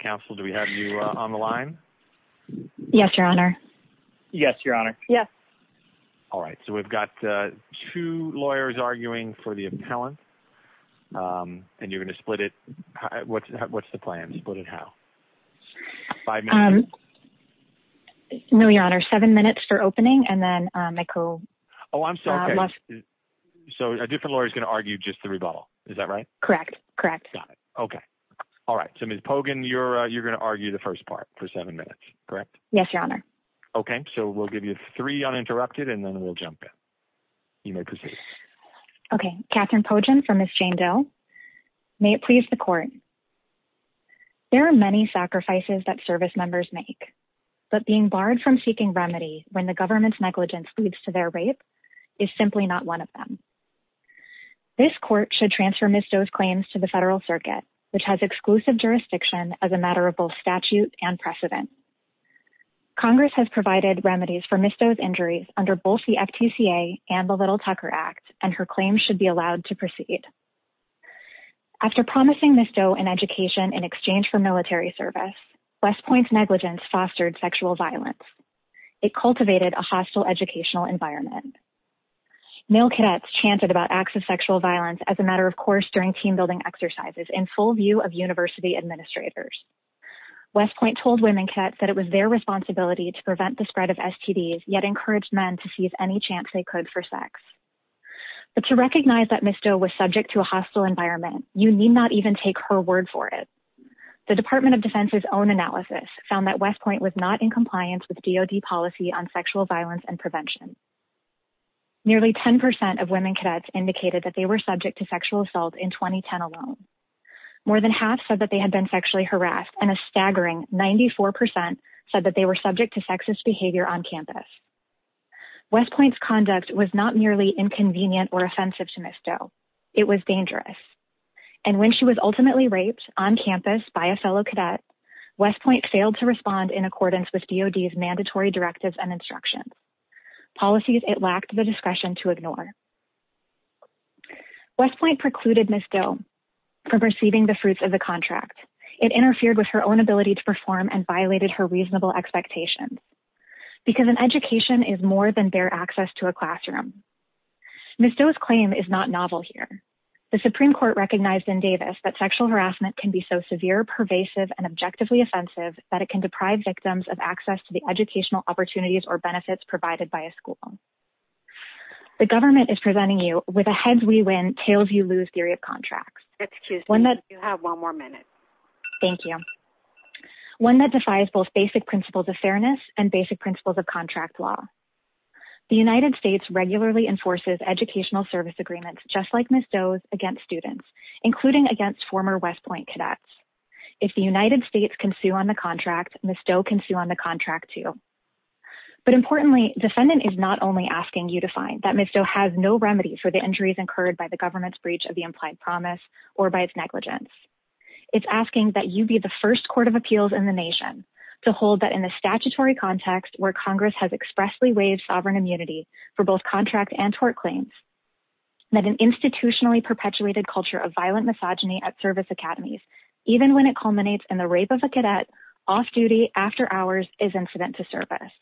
Counsel do we have you on the line? Yes, your honor. Yes, your honor. Yes. All right. So we've got two lawyers arguing for the appellant. And you're going to split it. What's the plan? No, your honor, seven minutes for opening and then my co. Oh, I'm sorry. So a different lawyer is going to argue just the rebuttal. Is that right? Correct. Correct. Okay. All right. So Miss Pogan, you're, you're going to argue the first part for seven minutes, correct? Yes, your honor. Okay, so we'll give you three uninterrupted and then we'll jump in. You may proceed. Okay. Catherine Pogen from Miss Jane Doe. May it please the court. There are many sacrifices that service members make, but being barred from seeking remedy when the government's negligence leads to their rape is simply not one of them. This court should transfer missed those claims to the federal circuit, which has exclusive jurisdiction as a matter of both statute and precedent. Congress has provided remedies for missed those injuries under both the FTCA and the little Tucker act and her claim should be allowed to proceed. After promising this dough and education in exchange for military service, West Point's negligence fostered sexual violence. It cultivated a hostile educational environment. Male cadets chanted about acts of sexual violence as a matter of course, during team building exercises in full view of university administrators. West Point told women cats that it was their responsibility to prevent the spread of STDs yet encouraged men to see if any chance they could for sex. But to recognize that misto was subject to a hostile environment. You need not even take her word for it. The department of defense's own analysis found that West Point was not in compliance with God policy on sexual violence and prevention. Nearly 10% of women cadets indicated that they were subject to sexual assault in 2010 alone. More than half said that they had been sexually harassed and a 4% said that they were subject to sexist behavior on campus. West Point's conduct was not merely inconvenient or offensive to misto. It was dangerous. And when she was ultimately raped on campus by a fellow cadet, West Point failed to respond in accordance with God's mandatory directives and instruction policies. It lacked the discretion to ignore. West Point precluded misto from receiving the fruits of the contract. It interfered with her own ability to perform and violated her reasonable expectations. Because an education is more than bare access to a classroom. Misto's claim is not novel here. The Supreme Court recognized in Davis that sexual harassment can be so severe, pervasive and objectively offensive that it can deprive victims of access to the educational opportunities or benefits provided by a school. The government is presenting you with a heads we win, tails you lose theory of contracts. Excuse me, you have one more minute. Thank you. One that defies both basic principles of fairness and basic principles of contract law. The United States regularly enforces educational service agreements just like mistos against students, including against former West Point cadets. If the United States can sue on the contract, misto can sue on the contract too. But importantly, defendant is not only asking you to find that misto has no remedy for the injuries incurred by the government's breach of the implied promise or by its negligence. It's asking that you be the first court of appeals in the nation to hold that in the statutory context where Congress has expressly waived sovereign immunity for both contract and tort claims, that an institutionally perpetuated culture of violent misogyny at service academies, even when it culminates in the rape of a cadet off duty after hours is incident to service.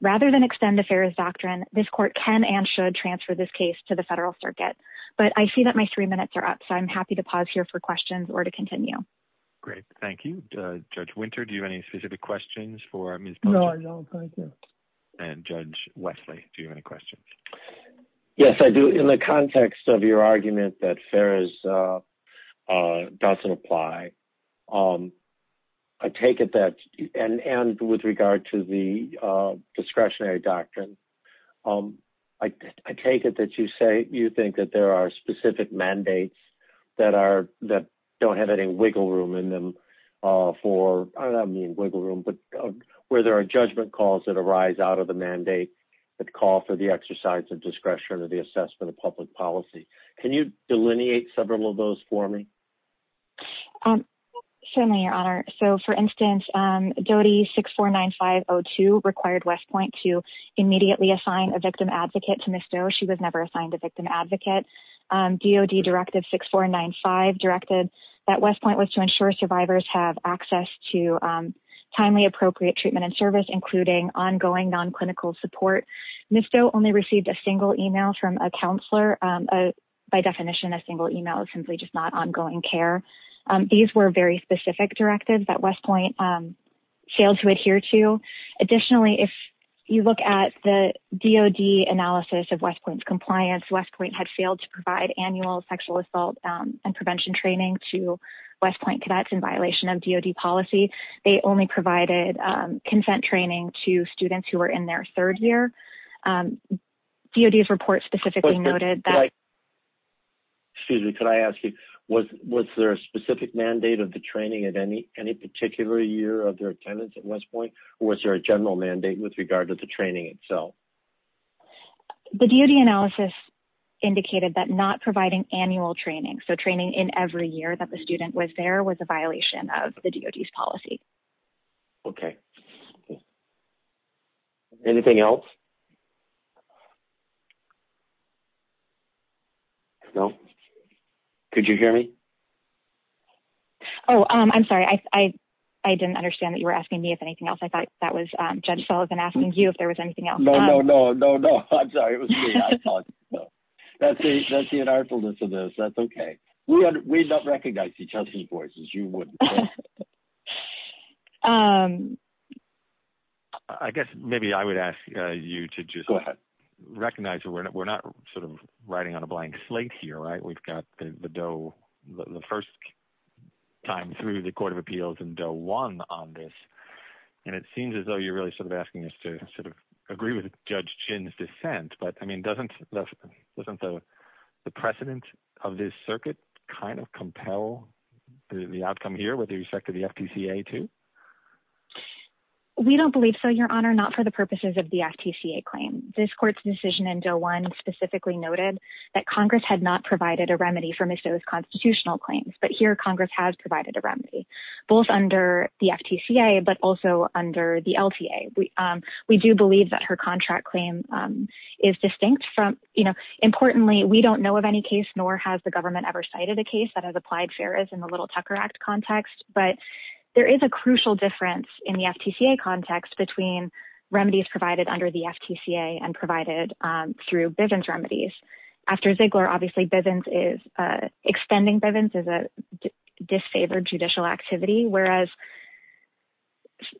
Rather than extend the Ferris doctrine, this court can and should transfer this case to the federal circuit. But I see that my three minutes are up, so I'm happy to pause here for questions or to continue. Great. Thank you, Judge Winter. Do you have any specific questions for Ms. Poitras? No, I don't. Thank you. And Judge Wesley, do you have any questions? Yes, I do. In the context of your argument that Ferris doesn't apply, I take it that... And with regard to the discretionary doctrine, I take it that you think that there are specific mandates that don't have any wiggle room in them for... I don't mean wiggle room, but where there are judgment calls that arise out of the mandate that call for the exercise of discretion or the assessment of public policy. Can you delineate several of those for me? Certainly, Your Honor. So for instance, DOTI 649502 required West Point to immediately assign a victim advocate to Ms. Doe. She was never assigned a victim advocate. DOD Directive 6495 directed that West Point was to ensure survivors have access to timely appropriate treatment and service, including ongoing non-clinical support. Ms. Doe only received a single email from a counselor. By definition, a single email is simply just not ongoing care. These were very specific directives that West Point failed to adhere to. Additionally, if you look at the DOD analysis of West Point's compliance, West Point had failed to provide annual sexual assault and prevention training to West Point cadets in violation of DOD policy. They only provided consent training to students who were in their third year. DOD's report specifically noted that... Excuse me, could I ask you, was there a specific mandate of the training at any particular year of their attendance at West Point, or was there a general mandate with regard to the training itself? The DOD analysis indicated that not providing annual training, so training in every year that the Anything else? No. Could you hear me? Oh, I'm sorry. I didn't understand that you were asking me if anything else. I thought that was Judge Sullivan asking you if there was anything else. No, no, no, no, no. I'm sorry. It was me. I apologize. That's the unartfulness of this. That's okay. We don't recognize each other's voices. You wouldn't. I guess maybe I would ask you to just recognize that we're not writing on a blank slate here, right? We've got the first time through the Court of Appeals in Doe 1 on this, and it seems as though you're really asking us to agree with Judge Chin's dissent, but doesn't the precedent of this circuit compel the outcome here with respect to the FPCA too? We don't believe so, Your Honor, not for the purposes of the FTCA claim. This Court's decision in Doe 1 specifically noted that Congress had not provided a remedy for Ms. Doe's constitutional claims, but here Congress has provided a remedy, both under the FTCA, but also under the LTA. We do believe that her contract claim is distinct from, you know, importantly, we don't know of any case, nor has the government ever cited a case that has applied Ferris in the Little the crucial difference in the FTCA context between remedies provided under the FTCA and provided through Bivens remedies. After Ziegler, obviously, extending Bivens is a disfavored judicial activity, whereas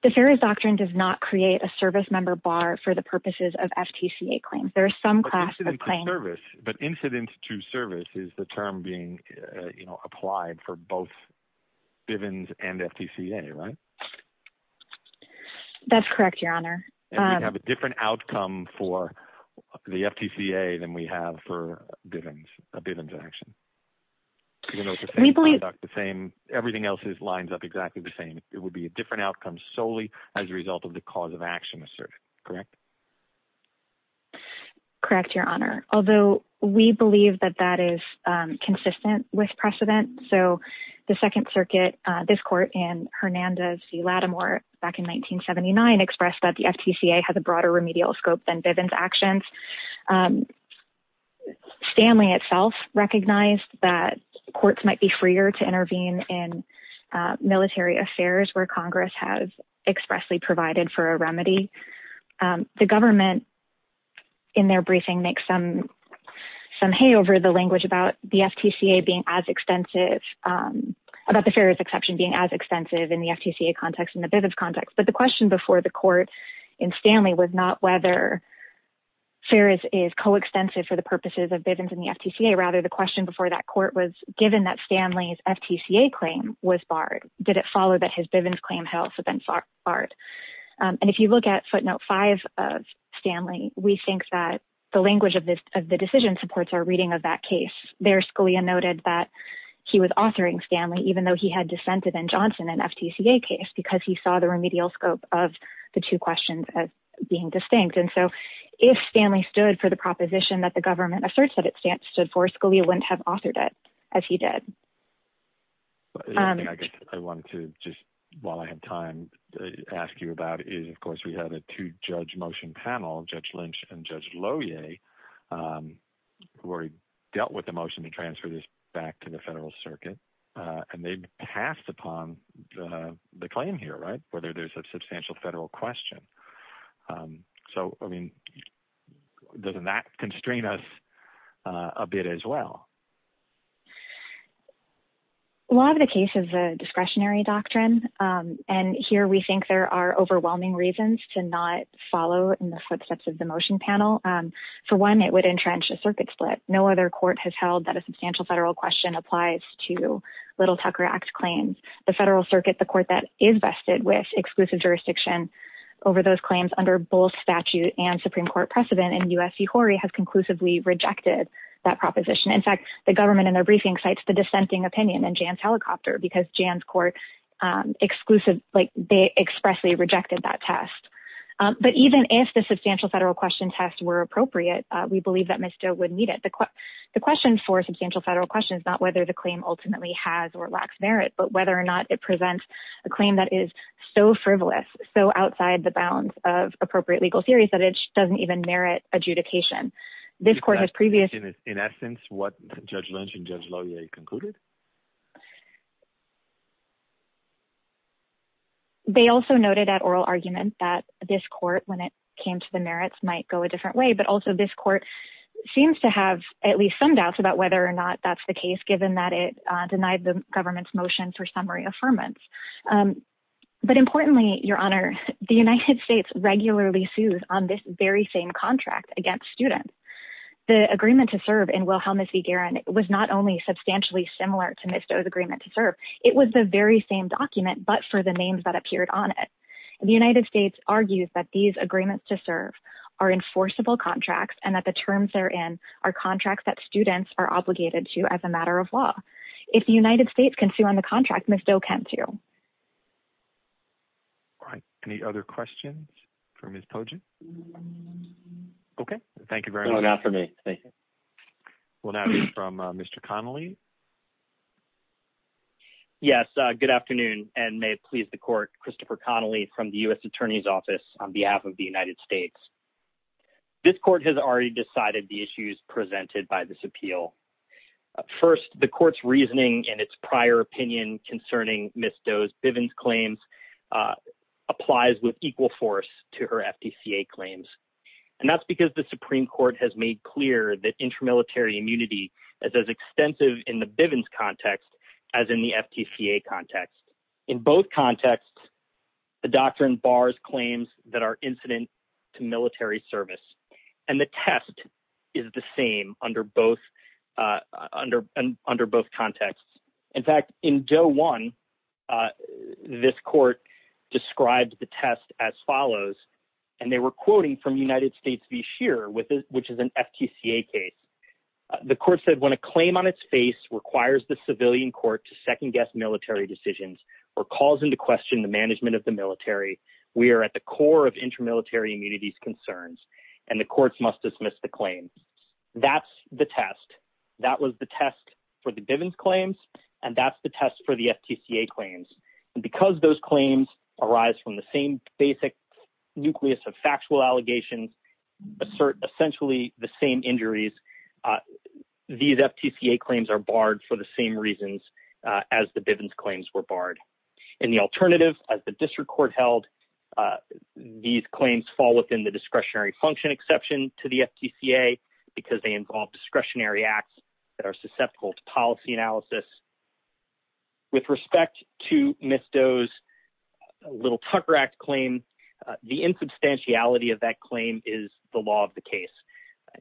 the Ferris Doctrine does not create a service member bar for the purposes of FTCA claims. There are some class of claims. But incident to service is the term being, you know, applied for both Bivens and FTCA, right? That's correct, Your Honor. And we have a different outcome for the FTCA than we have for Bivens, a Bivens action. Even though it's the same product, the same, everything else is lines up exactly the same. It would be a different outcome solely as a result of the cause of action asserted, correct? Correct, Your Honor. Although we believe that that is consistent with precedent. So the Second Circuit, this court in Hernandez v. Lattimore back in 1979, expressed that the FTCA has a broader remedial scope than Bivens actions. Stanley itself recognized that courts might be freer to intervene in military affairs where Congress has expressly provided for a remedy. The government in their briefing makes some hay over the language about the FTCA being as extensive, about the Ferris exception being as extensive in the FTCA context and the Bivens context. But the question before the court in Stanley was not whether Ferris is co-extensive for the purposes of Bivens and the FTCA. Rather, the question before that court was given that Stanley's FTCA claim was barred. Did it follow that his Bivens claim health had been barred? And if you look at footnote five of Stanley, we think that the language of the decision supports our reading of that case. There Scalia noted that he was authoring Stanley, even though he had dissented in Johnson and FTCA case because he saw the remedial scope of the two questions as being distinct. And so if Stanley stood for the proposition that the government asserts that it stood for, Scalia wouldn't have authored it as he did. I want to just, while I have time, ask you about is, of course, we had a two-judge motion panel, Judge Lynch and Judge Lohier, who already dealt with the motion to transfer this back to the federal circuit. And they passed upon the claim here, right, whether there's a substantial federal question. So, I mean, doesn't that constrain us a bit as well? A lot of the case is a discretionary doctrine. And here we think there are overwhelming reasons to not follow in the footsteps of the motion panel. For one, it would entrench a circuit split. No other court has held that a substantial federal question applies to Little Tucker Act claims. The federal circuit, the court that is vested with exclusive jurisdiction over those claims under both statute and Supreme Court precedent in U.S.C. Horry has conclusively rejected that proposition. In fact, the government in their briefing cites the dissenting opinion in Jan's helicopter because Jan's court, they expressly rejected that test. But even if the substantial federal question test were appropriate, we believe that Ms. Doe would meet it. The question for substantial federal question is not whether the claim ultimately has or lacks merit, but whether or not it presents a claim that is so frivolous, so outside the bounds of appropriate legal theories that it doesn't even merit adjudication. This court has previous... In essence, what Judge Lynch and Judge Laurier concluded? They also noted at oral argument that this court, when it came to the merits, might go a different way. But also this court seems to have at least some doubts about whether or not that's the case, given that it denied the government's motion for summary affirmance. But importantly, Your Honor, the United States regularly sues on this very same contract against students. The agreement to serve in Wilhelmus v. Guerin was not only substantially similar to Ms. Doe's agreement to serve. It was the very same document, but for the names that appeared on it. The United States argues that these agreements to serve are enforceable contracts and that the terms they're in are contracts that students are obligated to as a matter of law. If the United States can sue on the contract, Ms. Doe can too. All right. Any other questions for Ms. Pojan? Okay. Thank you very much. No, not for me. Thank you. We'll now hear from Mr. Connolly. Yes. Good afternoon, and may it please the court, Christopher Connolly from the U.S. Attorney's Office on behalf of the United States. This court has already decided the issues presented by this appeal. First, the court's reasoning and its prior opinion concerning Ms. Doe's Bivens claims applies with equal force to her FTCA claims. And that's because the Supreme Court has made clear that intramilitary immunity is as extensive in the Bivens context as in the FTCA context. In both contexts, the doctrine bars claims that are incident to military service. And the test is the same under both contexts. In fact, in Doe 1, this court described the test as follows. And they were quoting from United States v. Scheer, which is an FTCA case. The court said, when a claim on its face requires the civilian court to second-guess military decisions or calls into question the management of the military, we are at the core of intramilitary immunity's concerns. And the courts must dismiss the claim. That's the test. That was the test for the Bivens claims, and that's the test for the FTCA claims. And because those claims arise from the same basic nucleus of factual allegations, assert essentially the same injuries, these FTCA claims are barred for the same reasons as the Bivens claims were barred. In the alternative, as the district court held, these claims fall within the discretionary function exception to the FTCA because they involve discretionary acts that are susceptible to policy analysis. With respect to Ms. Doe's Little Tucker Act claim, the insubstantiality of that claim is the law of the case.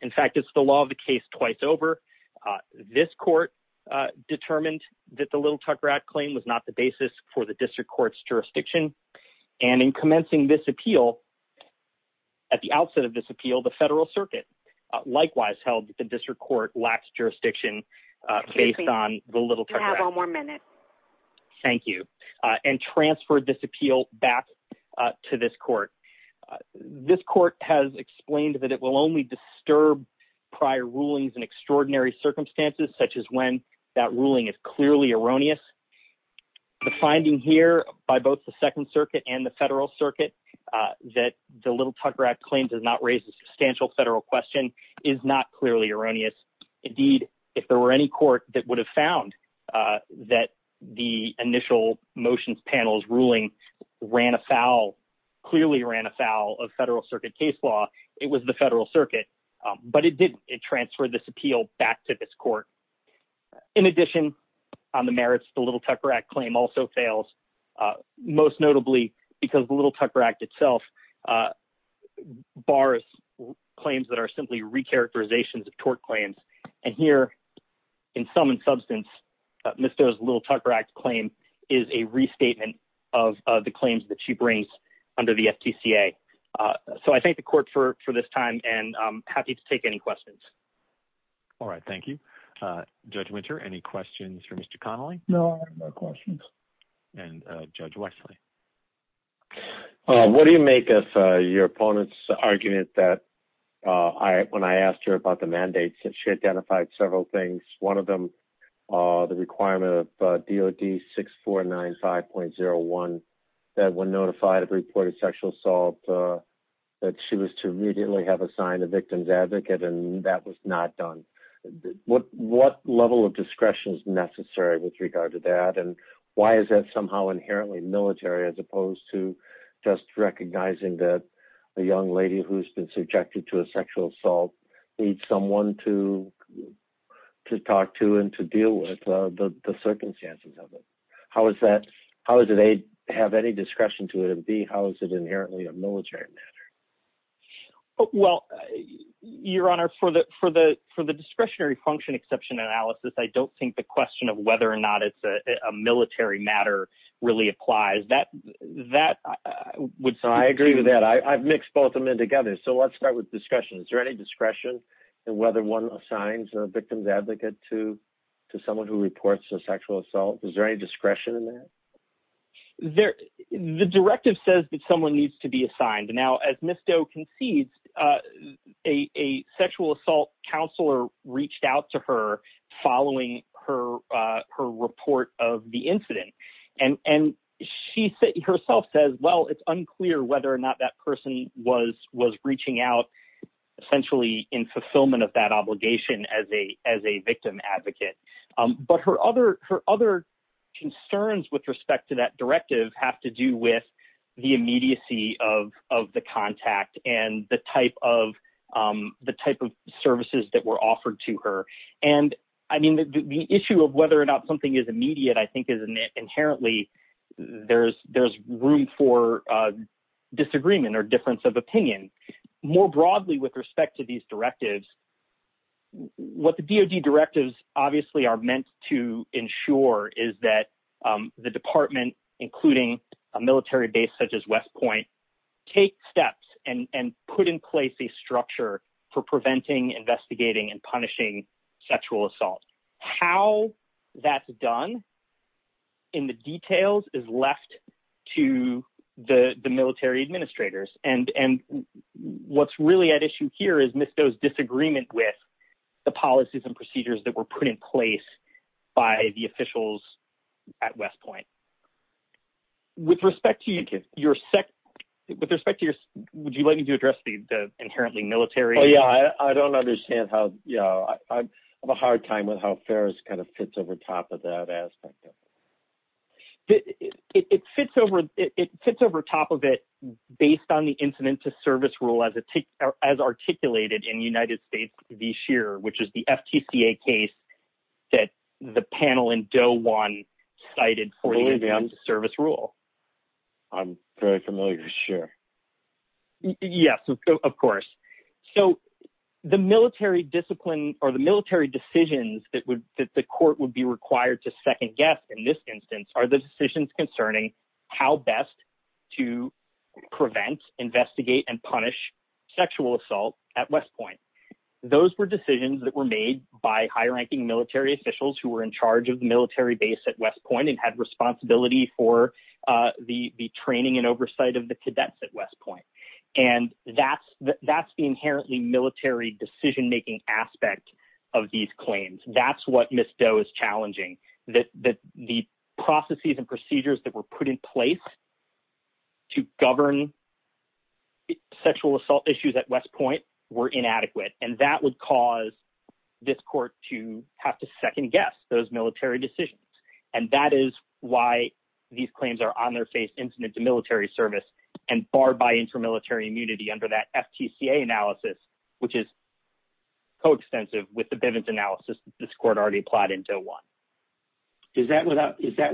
In fact, it's the law of the case twice over. This court determined that the Little Tucker Act claim was not the basis for the district court's jurisdiction. And in commencing this appeal, at the outset of this appeal, the federal circuit likewise held that the district court lacks jurisdiction based on the Little Tucker Act. Thank you. And transferred this appeal back to this court. This court has explained that it will only disturb prior rulings in extraordinary circumstances, such as when that ruling is clearly erroneous. The finding here by both the second circuit and the federal circuit that the Little Tucker Act claim does not raise a substantial federal question is not clearly erroneous. Indeed, if there were any court that would have found that the initial motions panel's ruling ran afoul, clearly ran afoul of federal circuit case law, it was the federal circuit. In addition, on the merits, the Little Tucker Act claim also fails, most notably because the Little Tucker Act itself bars claims that are simply recharacterizations of tort claims. And here, in sum and substance, Ms. Stowe's Little Tucker Act claim is a restatement of the claims that she brings under the FTCA. So I thank the court for this time, and I'm happy to take any questions. All right. Thank you. Judge Winter, any questions for Mr. Connolly? No, I have no questions. And Judge Wesley? What do you make of your opponent's argument that when I asked her about the mandates that she identified several things, one of them the requirement of DOD 6495.01 that when notified of reported sexual assault that she was to immediately have assigned a victim's advocate, and that was not done. What level of discretion is necessary with regard to that? And why is that somehow inherently military as opposed to just recognizing that a young lady who's been subjected to a sexual assault needs someone to talk to and to deal with the circumstances of it? How is that? How does it A, have any discretion to it, and B, how is it inherently a military matter? Well, Your Honor, for the discretionary function exception analysis, I don't think the question of whether or not it's a military matter really applies. So I agree with that. I've mixed both of them in together. So let's start with discussion. Is there any discretion in whether one assigns a victim's advocate to someone who reports a sexual assault? Is there any discretion in that? The directive says that someone needs to be assigned. Now, as Ms. Doe concedes, a sexual assault counselor reached out to her following her report of the incident. And she herself says, well, it's unclear whether or not that person was reaching out essentially in fulfillment of that obligation as a victim advocate. But her other concerns with respect to that directive have to do with the immediacy of the contact and the type of services that were offered to her. And I mean, the issue of whether or not something is immediate, I think, is inherently there's room for disagreement or difference of opinion. More broadly, with respect to these directives, what the DOD directives obviously are meant to ensure is that the department, including a military base such as West Point, take steps and put in place a structure for preventing, investigating, and punishing sexual assault. How that's done in the details is left to the military administrators. And what's really at issue here is Ms. Doe's disagreement with the policies and procedures that were put in place by the officials at West Point. With respect to your second, with respect to your, would you like me to address the inherently military? Yeah, I don't understand how, you know, I have a hard time with how Ferris kind of fits over top of that aspect. It fits over, it fits over top of it based on the incident to service rule as articulated in United States v. Scheer, which is the FTCA case that the panel and Doe won cited for the service rule. I'm very familiar with Scheer. Yes, of course. So the military discipline or the military decisions that the court would be required to second guess in this instance are the decisions concerning how best to prevent, investigate, and punish sexual assault at West Point. Those were decisions that were made by high-ranking military officials who were in charge of the military base at West Point and had responsibility for the training and oversight of the cadets at West Point. And that's the inherently military decision-making aspect of these claims. That's what Ms. Doe is challenging, that the processes and procedures that were put in place to govern sexual assault issues at West Point were inadequate. And that would cause this court to have to second guess those military decisions. And that is why these claims are on their face incident to military service and barred by inter-military immunity under that FTCA analysis, which is co-extensive with the Bivens analysis that this court already applied in Doe 1. Is that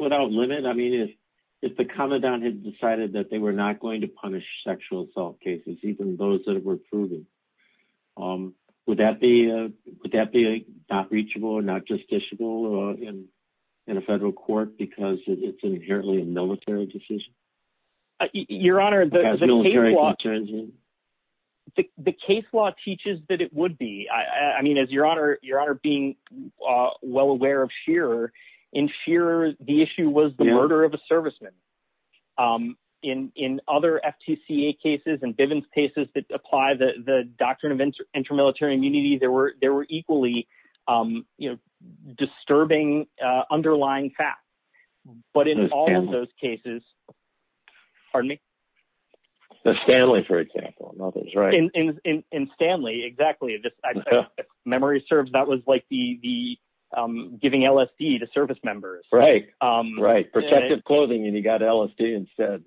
without limit? I mean, if the Commandant had decided that they were not going to punish sexual assault cases, even those that were proven, would that be not reachable and not justiciable in a federal court because it's inherently a military decision? Your Honor, the case law teaches that it would be. I mean, as Your Honor being well aware of Shearer, in Shearer, the issue was the murder of a serviceman. In other FTCA cases and Bivens cases that apply the doctrine of inter-military immunity, there were equally disturbing underlying facts. But in all of those cases, pardon me? The Stanley, for example. In Stanley, exactly. If memory serves, that was like the giving LSD to service members. Right. Protective clothing and he got LSD instead.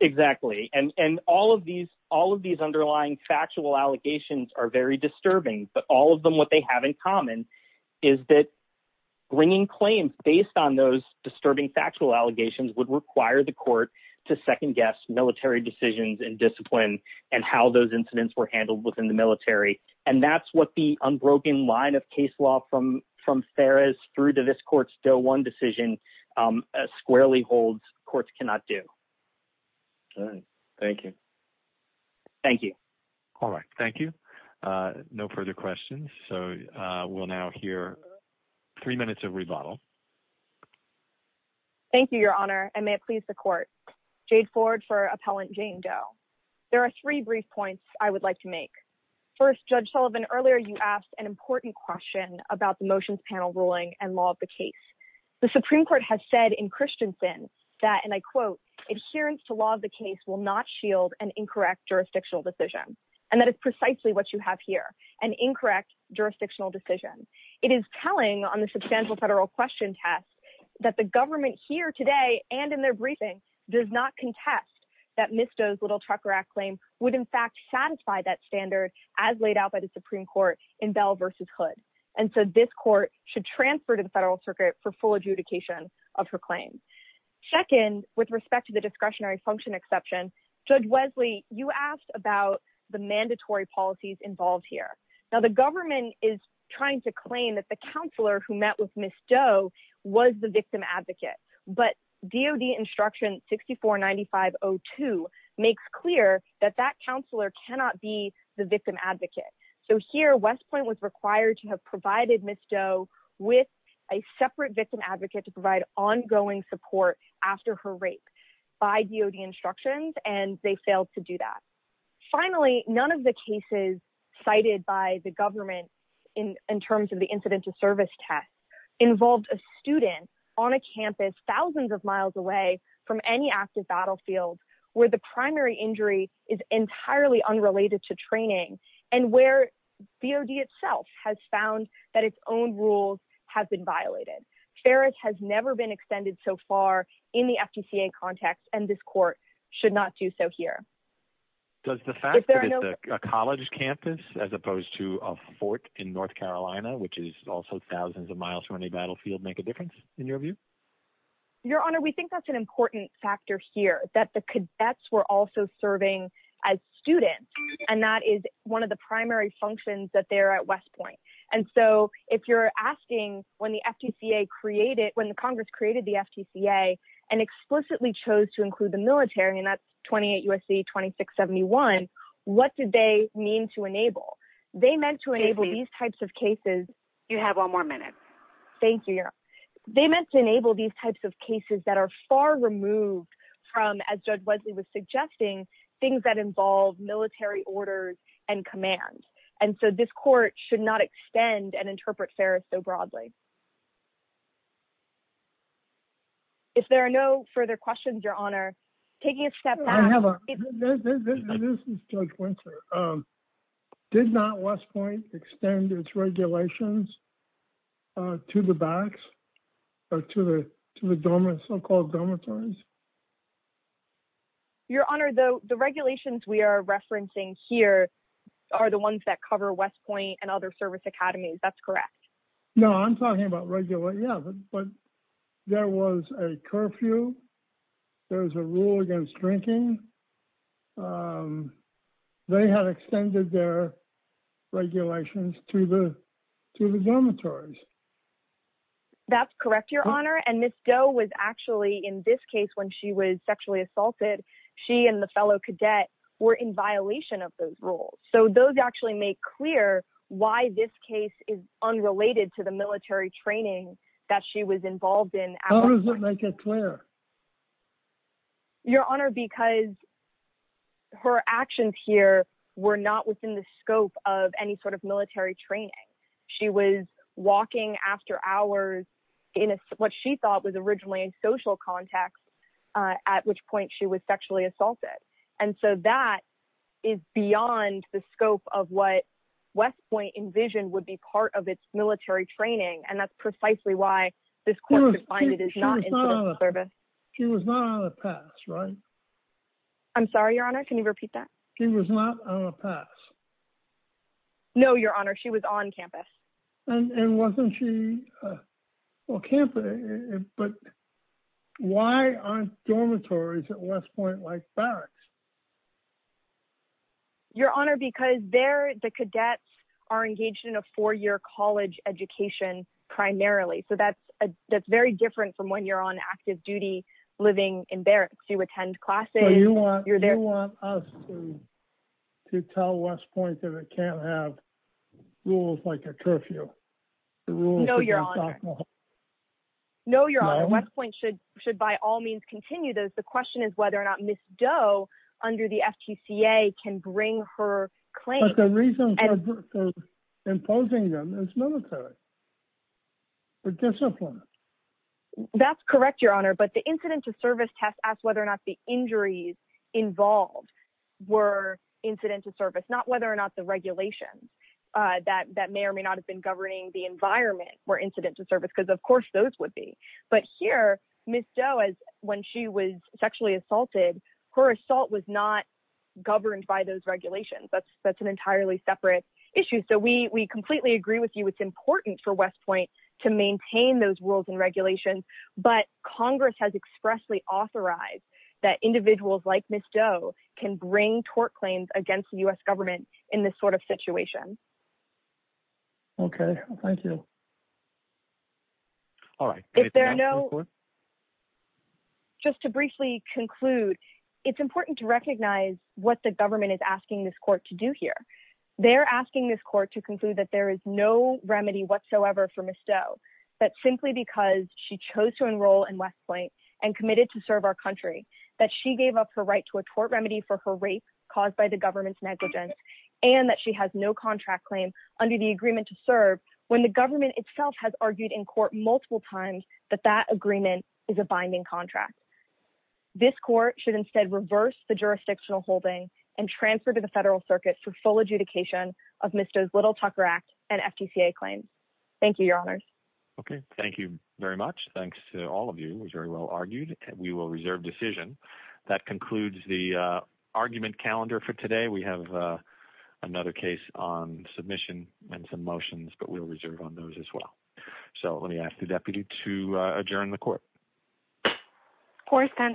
Exactly. And all of these underlying factual allegations are very disturbing. But all of them, what they have in common is that bringing claims based on those disturbing factual allegations would require the court to second-guess military decisions and discipline and how those incidents were handled within the military. And that's what the unbroken line of case law from Ferris through to this court's Doe 1 decision squarely holds courts cannot do. All right. Thank you. Thank you. All right. Thank you. No further questions. So we'll now hear three minutes of rebuttal. Thank you, Your Honor, and may it please the court. Jade Ford for Appellant Jane Doe. There are three brief points I would like to make. First, Judge Sullivan, earlier you asked an important question about the motions panel ruling and law of the case. The Supreme Court has said in Christensen that, and I quote, adherence to law of the case will not shield an incorrect jurisdictional decision. And that is precisely what you have here, an incorrect jurisdictional decision. It is telling on the substantial federal question test that the government here today and in their briefing does not contest that Misto's Little Trucker Act claim would in fact satisfy that standard as laid out by the Supreme Court in Bell v. Hood. And so this court should transfer to the federal circuit for full adjudication of her claim. Second, with respect to the discretionary function exception, Judge Wesley, you asked about the mandatory policies involved here. Now the government is trying to claim that the counselor who met with Ms. Doe was the victim advocate. But DOD instruction 64-9502 makes clear that that counselor cannot be the victim advocate. So here West Point was required to have provided Ms. Doe with a separate victim advocate to provide ongoing support after her rape by DOD instructions. And they failed to do that. Finally, none of the cases cited by the government in terms of the incident to service test involved a student on a campus thousands of miles away from any active battlefield where the primary injury is entirely unrelated to training. Where DOD itself has found that its own rules have been violated. Ferris has never been extended so far in the FTCA context and this court should not do so here. Does the fact that it's a college campus as opposed to a fort in North Carolina, which is also thousands of miles from any battlefield make a difference in your view? Your Honor, we think that's an important factor here that the cadets were also serving as students and that is one of the primary functions that they're at West Point. And so if you're asking when the FTCA created, when the Congress created the FTCA and explicitly chose to include the military, and that's 28 U.S.C. 2671, what did they mean to enable? They meant to enable these types of cases. You have one more minute. Thank you, Your Honor. They meant to enable these types of cases that are far removed from, as Judge Wesley was suggesting, things that involve military orders and command. And so this court should not extend and interpret Ferris so broadly. If there are no further questions, Your Honor, taking a step back- This is Judge Winter. Did not West Point extend its regulations to the backs or to the so-called dormitories? Your Honor, the regulations we are referencing here are the ones that cover West Point and other service academies. That's correct. No, I'm talking about regular, yeah, but there was a curfew. There was a rule against drinking. They had extended their regulations to the dormitories. That's correct, Your Honor. And Ms. Doe was actually, in this case, when she was sexually assaulted, she and the fellow cadet were in violation of those rules. So those actually make clear why this case is unrelated to the military training that she was involved in- How does it make it clear? Your Honor, because her actions here were not within the scope of any sort of military training. She was walking after hours in what she thought was originally a social context at which point she was sexually assaulted. And so that is beyond the scope of what West Point envisioned would be part of its military training. And that's precisely why this court defined it as not in civil service. She was not on a pass, right? I'm sorry, Your Honor, can you repeat that? She was not on a pass. No, Your Honor, she was on campus. And wasn't she... But why aren't dormitories at West Point like barracks? Your Honor, because there, the cadets are engaged in a four-year college education primarily. So that's very different from when you're on active duty living in barracks. You attend classes. You want us to tell West Point that it can't have rules like a curfew? No, Your Honor. No, Your Honor. West Point should by all means continue those. The question is whether or not Ms. Doe under the FTCA can bring her claim. But the reason for imposing them is military. The discipline. That's correct, Your Honor. But the incident to service test asked whether or not the injuries involved were incident to service, not whether or not the regulations that may or may not have been governing the environment were incident to service. Because of course those would be. But here, Ms. Doe, when she was sexually assaulted, her assault was not governed by those regulations. That's an entirely separate issue. So we completely agree with you. It's important for West Point to maintain those rules and regulations. But Congress has expressly authorized that individuals like Ms. Doe can bring tort claims against the U.S. government in this sort of situation. Okay. Thank you. All right. Just to briefly conclude, it's important to recognize what the government is asking this court to do here. They're asking this court to conclude that there is no remedy whatsoever for Ms. Doe, but simply because she chose to enroll in West Point and committed to serve our country, that she gave up her right to a tort remedy for her rape caused by the government's negligence, and that she has no contract claim under the agreement to serve when the government itself has argued in court multiple times that that agreement is a binding contract. This court should instead reverse the jurisdictional holding and transfer to the federal circuit for full adjudication of Ms. Doe's Little Tucker Act and FTCA claims. Thank you, Your Honors. Okay. Thank you very much. Thanks to all of you. It was very well argued. We will reserve decision. We have another case on submission and some motions, but we'll reserve on those as well. So let me ask the deputy to adjourn the court.